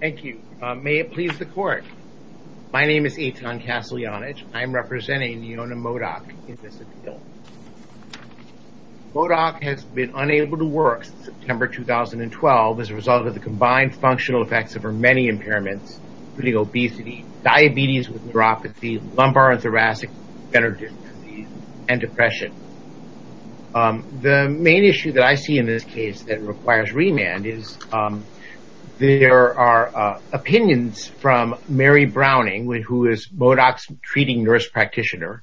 Thank you. May it please the court. My name is Eitan Casteljanich. I am representing Neona Modoc in this appeal. Modoc has been unable to work since September 2012 as a result of the combined functional effects of her many impairments, including obesity, diabetes with neuropathy, lumbar and thoracic degenerative disease, and depression. The main issue that I see in this case that requires remand is there are opinions from Mary Browning, who is Modoc's treating nurse practitioner,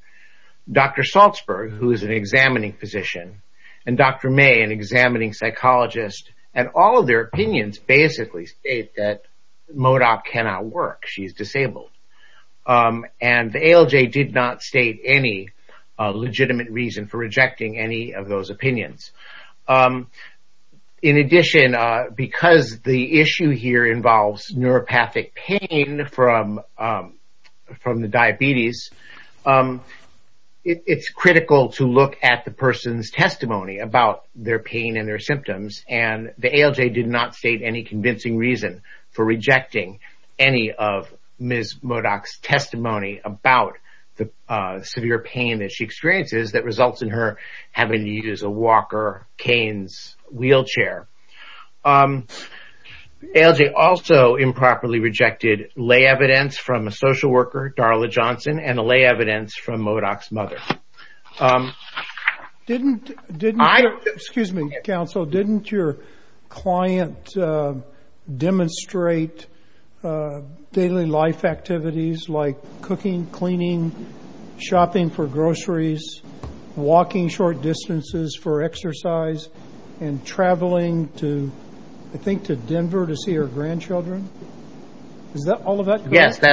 Dr. Salzberg, who is an examining physician, and Dr. May, an examining psychologist, and all of their opinions basically state that Modoc cannot work. She is disabled. And the ALJ did not state any legitimate reason for rejecting any of those opinions. In addition, because the issue here involves neuropathic pain from the diabetes, it's critical to look at the person's testimony about their pain and their symptoms, and the ALJ did not state any convincing reason for rejecting any of Ms. Modoc's testimony about the severe pain that she experiences that results in her having to use a walker, canes, wheelchair. ALJ also improperly rejected lay evidence from a social worker, Darla Johnson, and lay evidence from Modoc's mother. Didn't your client demonstrate daily life activities like cooking, cleaning, shopping for groceries, walking short distances for exercise, and traveling to, I think, to Denver to see her grandchildren? Is all of that correct?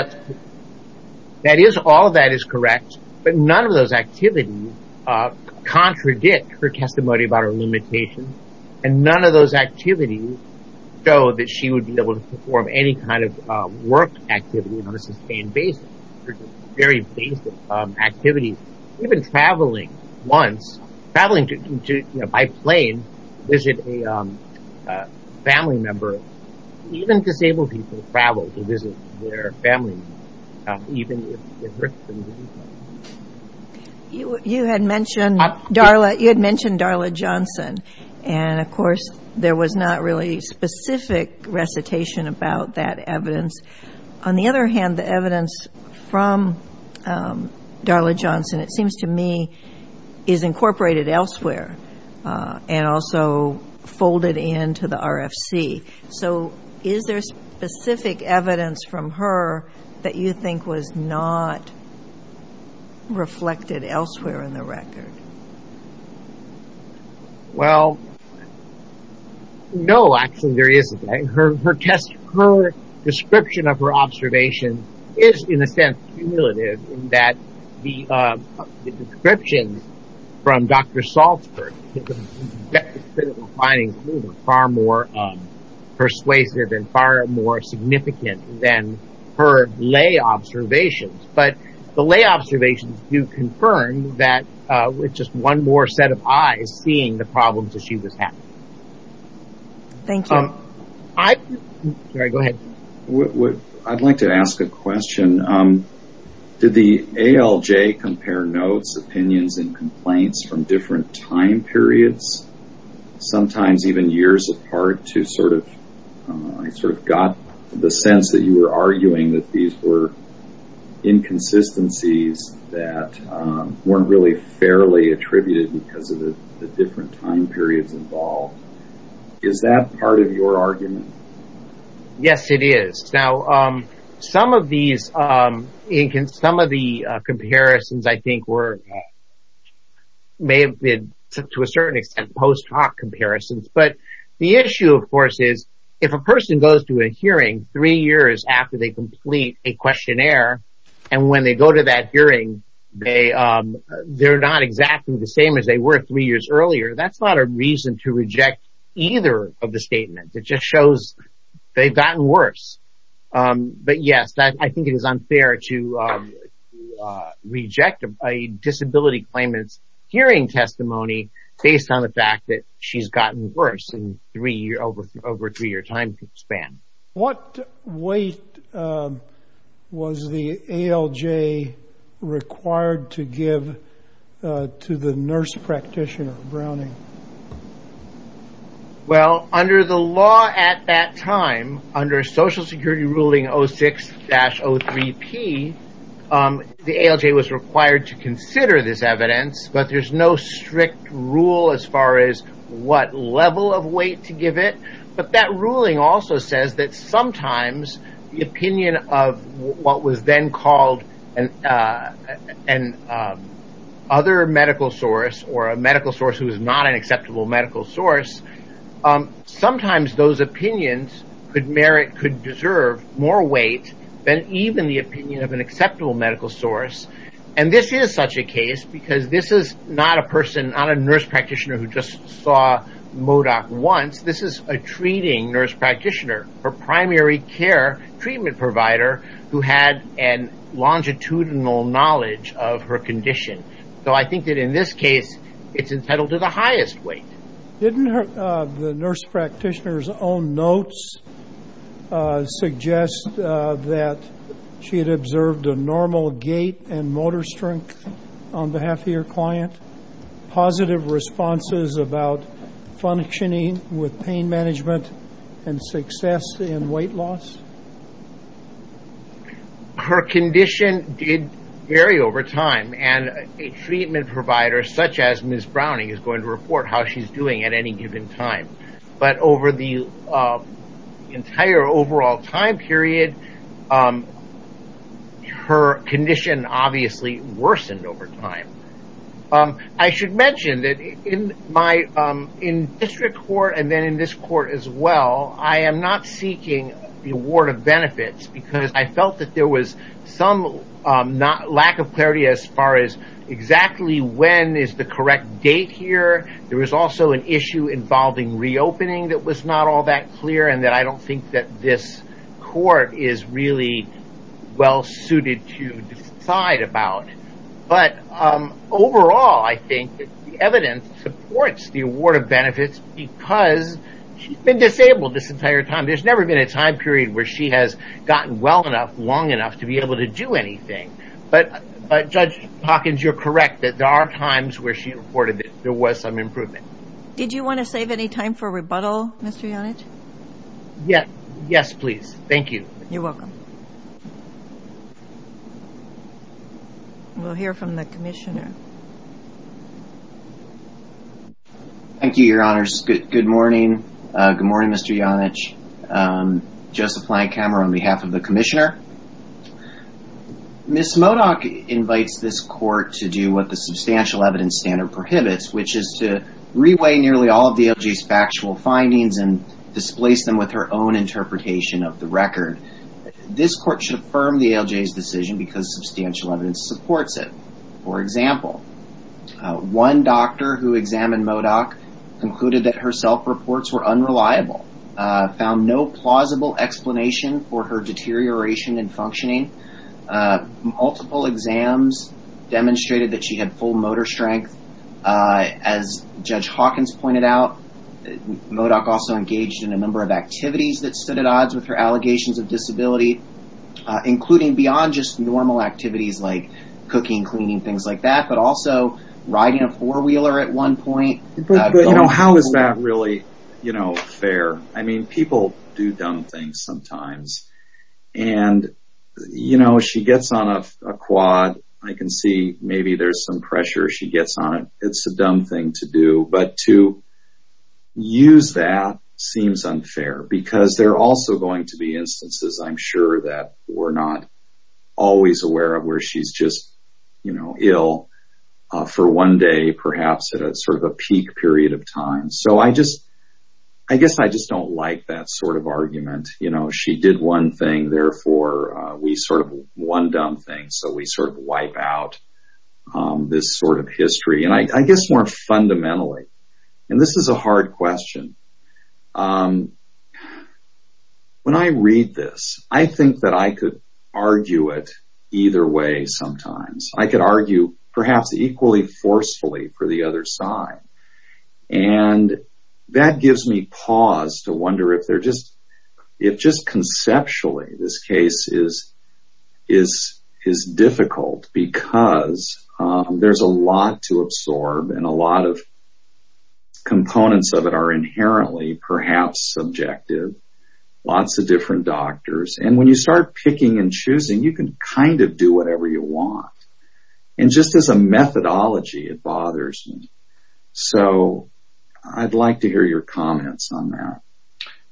Yes, all of that is correct, but none of those activities contradict her testimony about her limitations, and none of those activities show that she would be able to perform any kind of work activity on a sustained basis. Very basic activities. Even traveling once, traveling by plane to visit a family member. Even disabled people travel to visit their family members, even if it hurts them to do so. You had mentioned Darla Johnson, and, of course, there was not really specific recitation about that evidence. On the other hand, the evidence from Darla Johnson, it seems to me, is incorporated elsewhere, and also folded into the RFC. So, is there specific evidence from her that you think was not reflected elsewhere in the record? Well, no, actually, there isn't. Her description of her observations is, in a sense, cumulative, in that the description from Dr. Salzberg, the best critical findings, are far more persuasive and far more significant than her lay observations. But the lay observations do confirm that with just one more set of eyes, seeing the problems that she was having. Thank you. Sorry, go ahead. I'd like to ask a question. Did the ALJ compare notes, opinions, and complaints from different time periods, sometimes even years apart, I sort of got the sense that you were arguing that these were inconsistencies that weren't really fairly attributed because of the different time periods involved. Is that part of your argument? Yes, it is. Now, some of the comparisons, I think, may have been, to a certain extent, post hoc comparisons. But the issue, of course, is if a person goes to a hearing three years after they complete a questionnaire, and when they go to that hearing, they're not exactly the same as they were three years earlier, that's not a reason to reject either of the statements. It just shows they've gotten worse. But yes, I think it is unfair to reject a disability claimant's hearing testimony based on the fact that she's gotten worse over a three-year time span. What weight was the ALJ required to give to the nurse practitioner, Browning? Well, under the law at that time, under Social Security ruling 06-03P, the ALJ was required to consider this evidence, but there's no strict rule as far as what level of weight to give it. But that ruling also says that sometimes the opinion of what was then called an other medical source or a medical source who is not an acceptable medical source, sometimes those opinions could merit, could deserve more weight than even the opinion of an acceptable medical source. And this is such a case because this is not a person, not a nurse practitioner who just saw MODOC once. This is a treating nurse practitioner, a primary care treatment provider who had a longitudinal knowledge of her condition. So I think that in this case, it's entitled to the highest weight. Didn't the nurse practitioner's own notes suggest that she had observed a normal gait and motor strength on behalf of your client? Positive responses about functioning with pain management and success in weight loss? Her condition did vary over time, and a treatment provider such as Ms. Browning is going to report how she's doing at any given time. But over the entire overall time period, her condition obviously worsened over time. I should mention that in district court and then in this court as well, I am not seeking the award of benefits because I felt that there was some lack of clarity as far as exactly when is the correct date here. There was also an issue involving reopening that was not all that clear and that I don't think that this court is really well suited to decide about. But overall, I think the evidence supports the award of benefits because she's been disabled this entire time. There's never been a time period where she has gotten well enough, long enough to be able to do anything. But Judge Hawkins, you're correct that there are times where she reported that there was some improvement. Did you want to save any time for rebuttal, Mr. Janich? Yes, please. Thank you. You're welcome. We'll hear from the commissioner. Thank you, Your Honors. Good morning. Good morning, Mr. Janich. Joseph Blankhammer on behalf of the commissioner. Ms. Modoc invites this court to do what the substantial evidence standard prohibits, which is to reweigh nearly all of the ALJ's factual findings and displace them with her own interpretation of the record. This court should affirm the ALJ's decision because substantial evidence supports it. For example, one doctor who examined Modoc concluded that her self-reports were unreliable. She found no plausible explanation for her deterioration in functioning. Multiple exams demonstrated that she had full motor strength. As Judge Hawkins pointed out, Modoc also engaged in a number of activities that stood at odds with her allegations of disability, including beyond just normal activities like cooking, cleaning, things like that, but also riding a four-wheeler at one point. How is that really fair? People do dumb things sometimes, and she gets on a quad. I can see maybe there's some pressure she gets on it. It's a dumb thing to do, but to use that seems unfair because there are also going to be instances, I'm sure, that we're not always aware of where she's just ill for one day, perhaps at a peak period of time. So I guess I just don't like that sort of argument. She did one thing, therefore we sort of one dumb thing, so we sort of wipe out this sort of history. I guess more fundamentally, and this is a hard question, when I read this, I think that I could argue it either way sometimes. I could argue perhaps equally forcefully for the other side, and that gives me pause to wonder if just conceptually this case is difficult because there's a lot to absorb, and a lot of components of it are inherently perhaps subjective. Lots of different doctors, and when you start picking and choosing, you can kind of do whatever you want. And just as a methodology, it bothers me. So I'd like to hear your comments on that.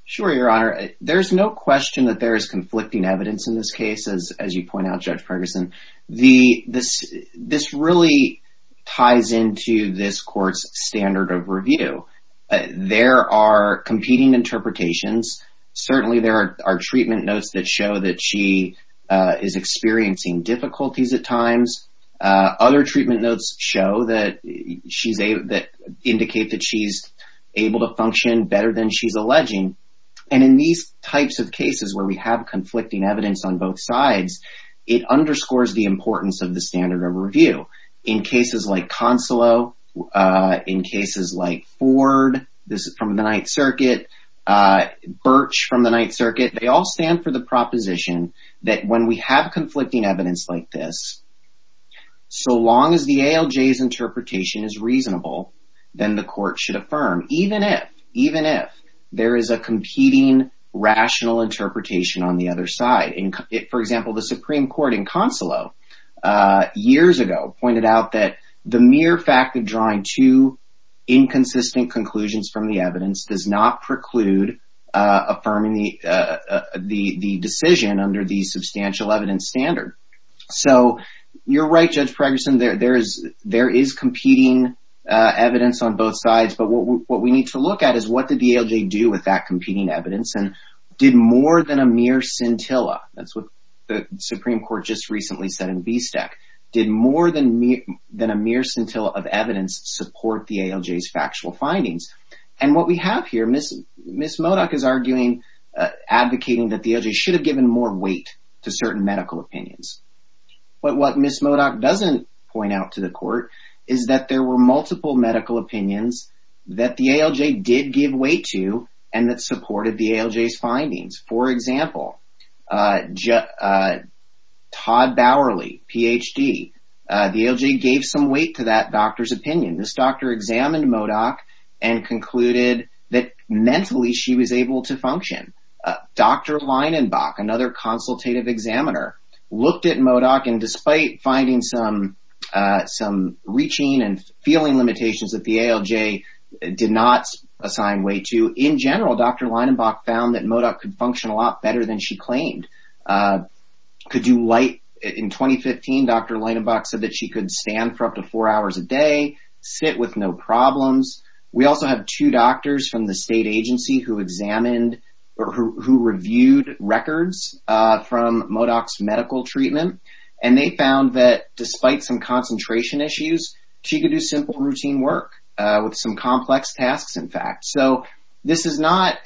Sure, Your Honor. There's no question that there is conflicting evidence in this case, as you point out, Judge Ferguson. This really ties into this court's standard of review. There are competing interpretations. Certainly there are treatment notes that show that she is experiencing difficulties at times. Other treatment notes show that she's able to indicate that she's able to function better than she's alleging. And in these types of cases where we have conflicting evidence on both sides, it underscores the importance of the standard of review. In cases like Consolo, in cases like Ford, this is from the Ninth Circuit, Birch from the Ninth Circuit, they all stand for the proposition that when we have conflicting evidence like this, so long as the ALJ's interpretation is reasonable, then the court should affirm, even if there is a competing rational interpretation on the other side. For example, the Supreme Court in Consolo years ago pointed out that the mere fact of drawing two inconsistent conclusions from the evidence does not preclude affirming the decision under the substantial evidence standard. So you're right, Judge Ferguson, there is competing evidence on both sides. But what we need to look at is what did the ALJ do with that competing evidence, and did more than a mere scintilla, that's what the Supreme Court just recently said in BSTEC, did more than a mere scintilla of evidence support the ALJ's factual findings? And what we have here, Ms. Modock is arguing, advocating that the ALJ should have given more weight to certain medical opinions. But what Ms. Modock doesn't point out to the court is that there were multiple medical opinions that the ALJ did give weight to, and that supported the ALJ's findings. For example, Todd Bowerly, Ph.D., the ALJ gave some weight to that doctor's opinion. This doctor examined Modock and concluded that mentally she was able to function. Dr. Leinenbach, another consultative examiner, looked at Modock, and despite finding some reaching and feeling limitations that the ALJ did not assign weight to, in general, Dr. Leinenbach found that Modock could function a lot better than she claimed. In 2015, Dr. Leinenbach said that she could stand for up to four hours a day, sit with no problems. We also have two doctors from the state agency who examined or who reviewed records from Modock's medical treatment, and they found that despite some concentration issues, she could do simple routine work with some complex tasks, in fact. So this is not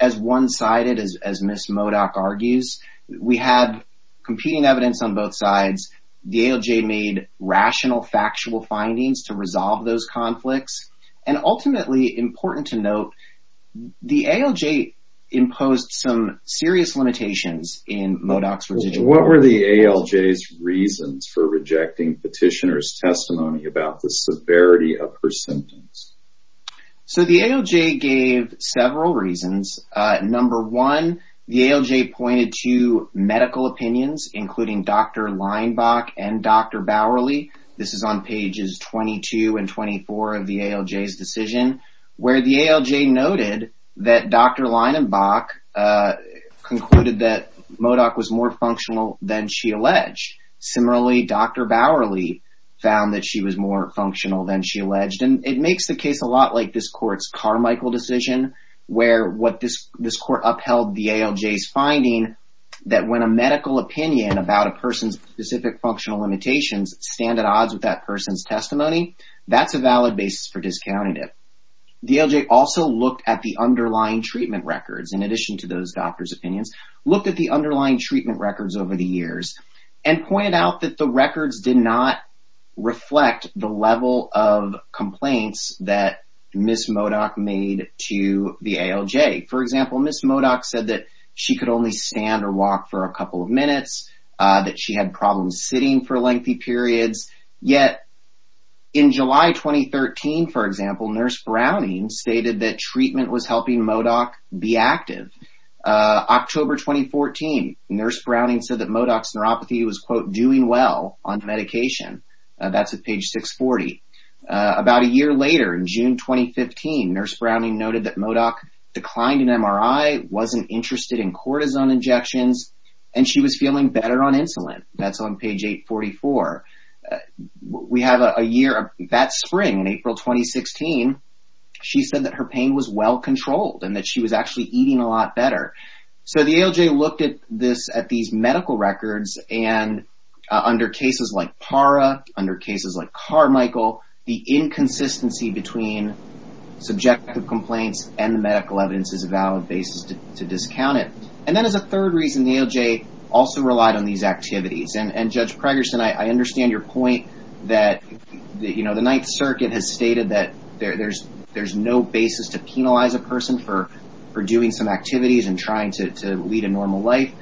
as one-sided as Ms. Modock argues. We have competing evidence on both sides. The ALJ made rational, factual findings to resolve those conflicts, and ultimately, important to note, the ALJ imposed some serious limitations in Modock's resignation. What were the ALJ's reasons for rejecting petitioner's testimony about the severity of her symptoms? So the ALJ gave several reasons. Number one, the ALJ pointed to medical opinions, including Dr. Leinenbach and Dr. Bowerly. This is on pages 22 and 24 of the ALJ's decision, where the ALJ noted that Dr. Leinenbach concluded that Modock was more functional than she alleged. Similarly, Dr. Bowerly found that she was more functional than she alleged, and it makes the case a lot like this court's Carmichael decision, where what this court upheld the ALJ's finding, that when a medical opinion about a person's specific functional limitations stand at odds with that person's testimony, that's a valid basis for discounting it. The ALJ also looked at the underlying treatment records, in addition to those doctors' opinions, looked at the underlying treatment records over the years, and pointed out that the records did not reflect the level of complaints that Ms. Modock made to the ALJ. For example, Ms. Modock said that she could only stand or walk for a couple of minutes, that she had problems sitting for lengthy periods. Yet, in July 2013, for example, Nurse Browning stated that treatment was helping Modock be active. October 2014, Nurse Browning said that Modock's neuropathy was, quote, doing well on medication. That's at page 640. About a year later, in June 2015, Nurse Browning noted that Modock declined an MRI, wasn't interested in cortisone injections, and she was feeling better on insulin. That's on page 844. That spring, in April 2016, she said that her pain was well-controlled, and that she was actually eating a lot better. So the ALJ looked at these medical records, and under cases like PARA, under cases like Carmichael, the inconsistency between subjective complaints and the medical evidence is a valid basis to discount it. And then as a third reason, the ALJ also relied on these activities. And, Judge Pregerson, I understand your point that, you know, the Ninth Circuit has stated that there's no basis to penalize a person for doing some activities and trying to lead a normal life.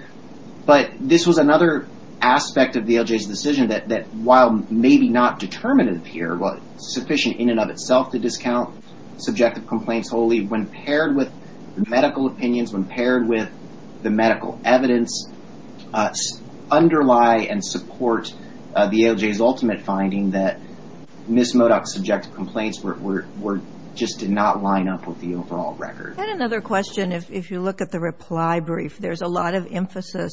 But this was another aspect of the ALJ's decision that, while maybe not determinative here, while sufficient in and of itself to discount subjective complaints wholly, when paired with medical opinions, when paired with the medical evidence, underlie and support the ALJ's ultimate finding that Ms. Modock's subjective complaints just did not line up with the overall record. And another question, if you look at the reply brief, there's a lot of emphasis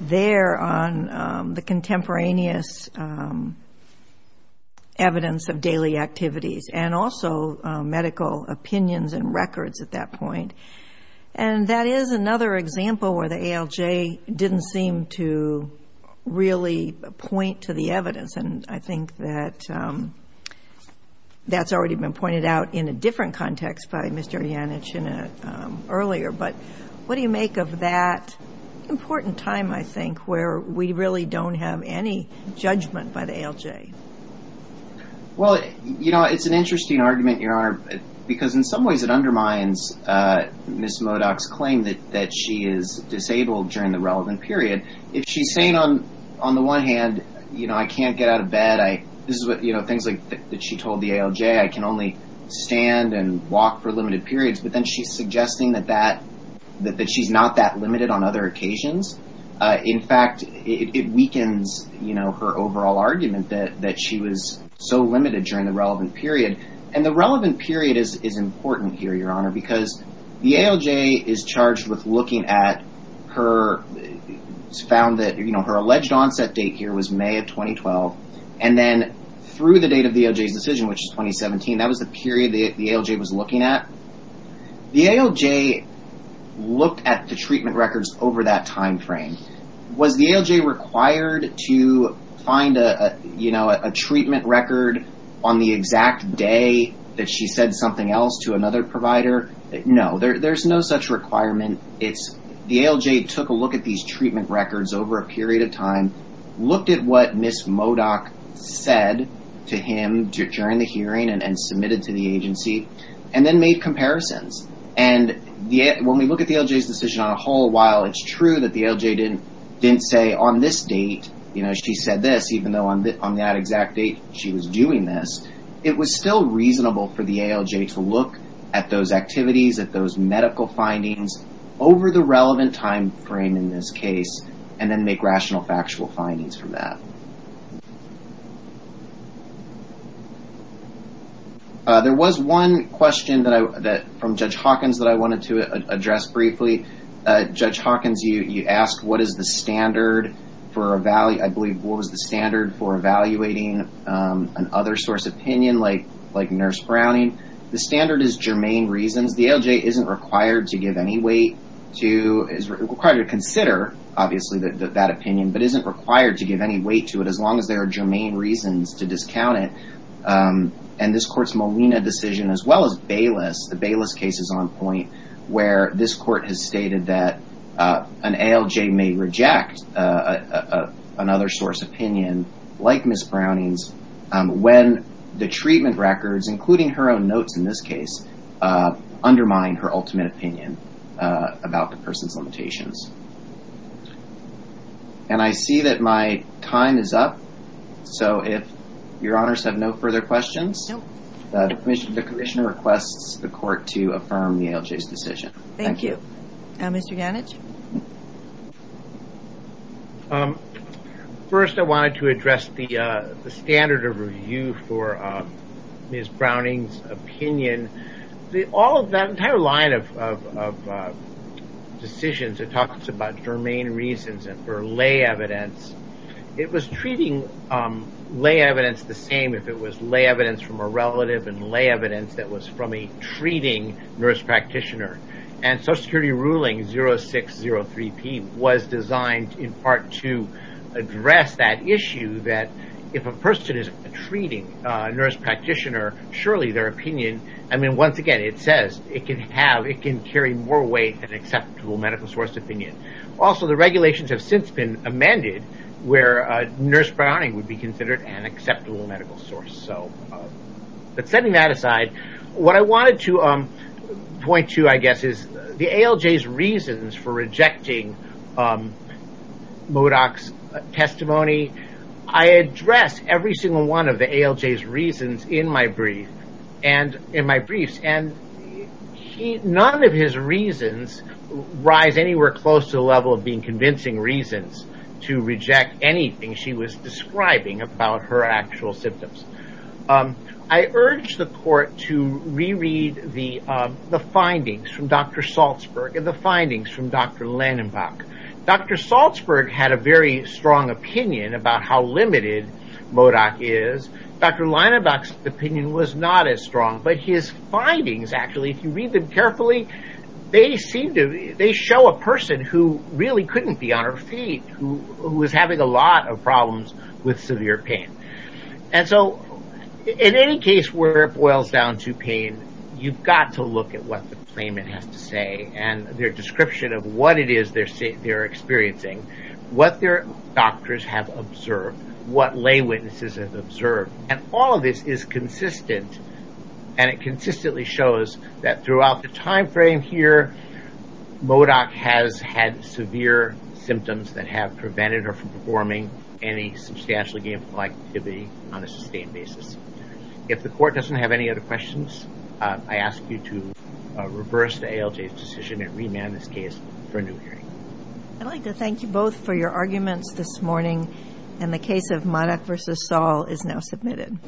there on the contemporaneous evidence of daily activities and also medical opinions and records at that point. And that is another example where the ALJ didn't seem to really point to the evidence. And I think that that's already been pointed out in a different context by Mr. Janich earlier. But what do you make of that important time, I think, where we really don't have any judgment by the ALJ? Well, you know, it's an interesting argument, Your Honor, because in some ways it undermines Ms. Modock's claim that she is disabled during the relevant period. If she's saying on the one hand, you know, I can't get out of bed, this is what, you know, things that she told the ALJ, I can only stand and walk for limited periods, but then she's suggesting that she's not that limited on other occasions. In fact, it weakens, you know, her overall argument that she was so limited during the relevant period. And the relevant period is important here, Your Honor, because the ALJ is charged with looking at her found that, you know, her alleged onset date here was May of 2012. And then through the date of the ALJ's decision, which is 2017, that was the period the ALJ was looking at. The ALJ looked at the treatment records over that timeframe. Was the ALJ required to find a, you know, a treatment record on the exact day that she said something else to another provider? No, there's no such requirement. The ALJ took a look at these treatment records over a period of time, looked at what Ms. Modock said to him during the hearing and submitted to the agency, and then made comparisons. And when we look at the ALJ's decision on a whole while, it's true that the ALJ didn't say on this date, you know, she said this even though on that exact date she was doing this. It was still reasonable for the ALJ to look at those activities, at those medical findings over the relevant timeframe in this case, and then make rational factual findings from that. There was one question from Judge Hawkins that I wanted to address briefly. Judge Hawkins, you asked what is the standard for, I believe, what was the standard for evaluating an other source opinion like Nurse Browning. The standard is germane reasons. The ALJ isn't required to give any weight to, is required to consider, obviously, that opinion, but isn't required to give any weight to it as long as there are germane reasons to discount it. And this court's Molina decision, as well as Bayless, the Bayless case is on point where this court has stated that an ALJ may reject another source opinion, like Ms. Browning's, when the treatment records, including her own notes in this case, undermine her ultimate opinion about the person's limitations. And I see that my time is up. So if your honors have no further questions, the commissioner requests the court to affirm the ALJ's decision. Thank you. Mr. Ganich. First, I wanted to address the standard of review for Ms. Browning's opinion. The entire line of decisions, it talks about germane reasons for lay evidence. It was treating lay evidence the same if it was lay evidence from a relative and lay evidence that was from a treating nurse practitioner. And Social Security ruling 0603P was designed in part to address that issue, that if a person is a treating nurse practitioner, surely their opinion, I mean, once again, it says, it can carry more weight than an acceptable medical source opinion. Also, the regulations have since been amended where nurse Browning would be considered an acceptable medical source. But setting that aside, what I wanted to point to, I guess, is the ALJ's reasons for rejecting MODOC's testimony. I address every single one of the ALJ's reasons in my briefs. And none of his reasons rise anywhere close to the level of being convincing reasons to reject anything she was describing about her actual symptoms. I urge the court to reread the findings from Dr. Salzberg and the findings from Dr. Landenbach. Dr. Salzberg had a very strong opinion about how limited MODOC is. Dr. Landenbach's opinion was not as strong. But his findings, actually, if you read them carefully, they show a person who really couldn't be on her feet, who was having a lot of problems with severe pain. And so, in any case where it boils down to pain, you've got to look at what the claimant has to say and their description of what it is they're experiencing, what their doctors have observed, what lay witnesses have observed. And all of this is consistent. And it consistently shows that throughout the time frame here, MODOC has had severe symptoms that have prevented her from performing any substantial gainful activity on a sustained basis. If the court doesn't have any other questions, I ask you to reverse the ALJ's decision and remand this case for a new hearing. I'd like to thank you both for your arguments this morning, and the case of MODOC v. Saul is now submitted.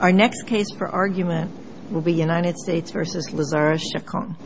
Our next case for argument will be United States v. Lazarus Chacon.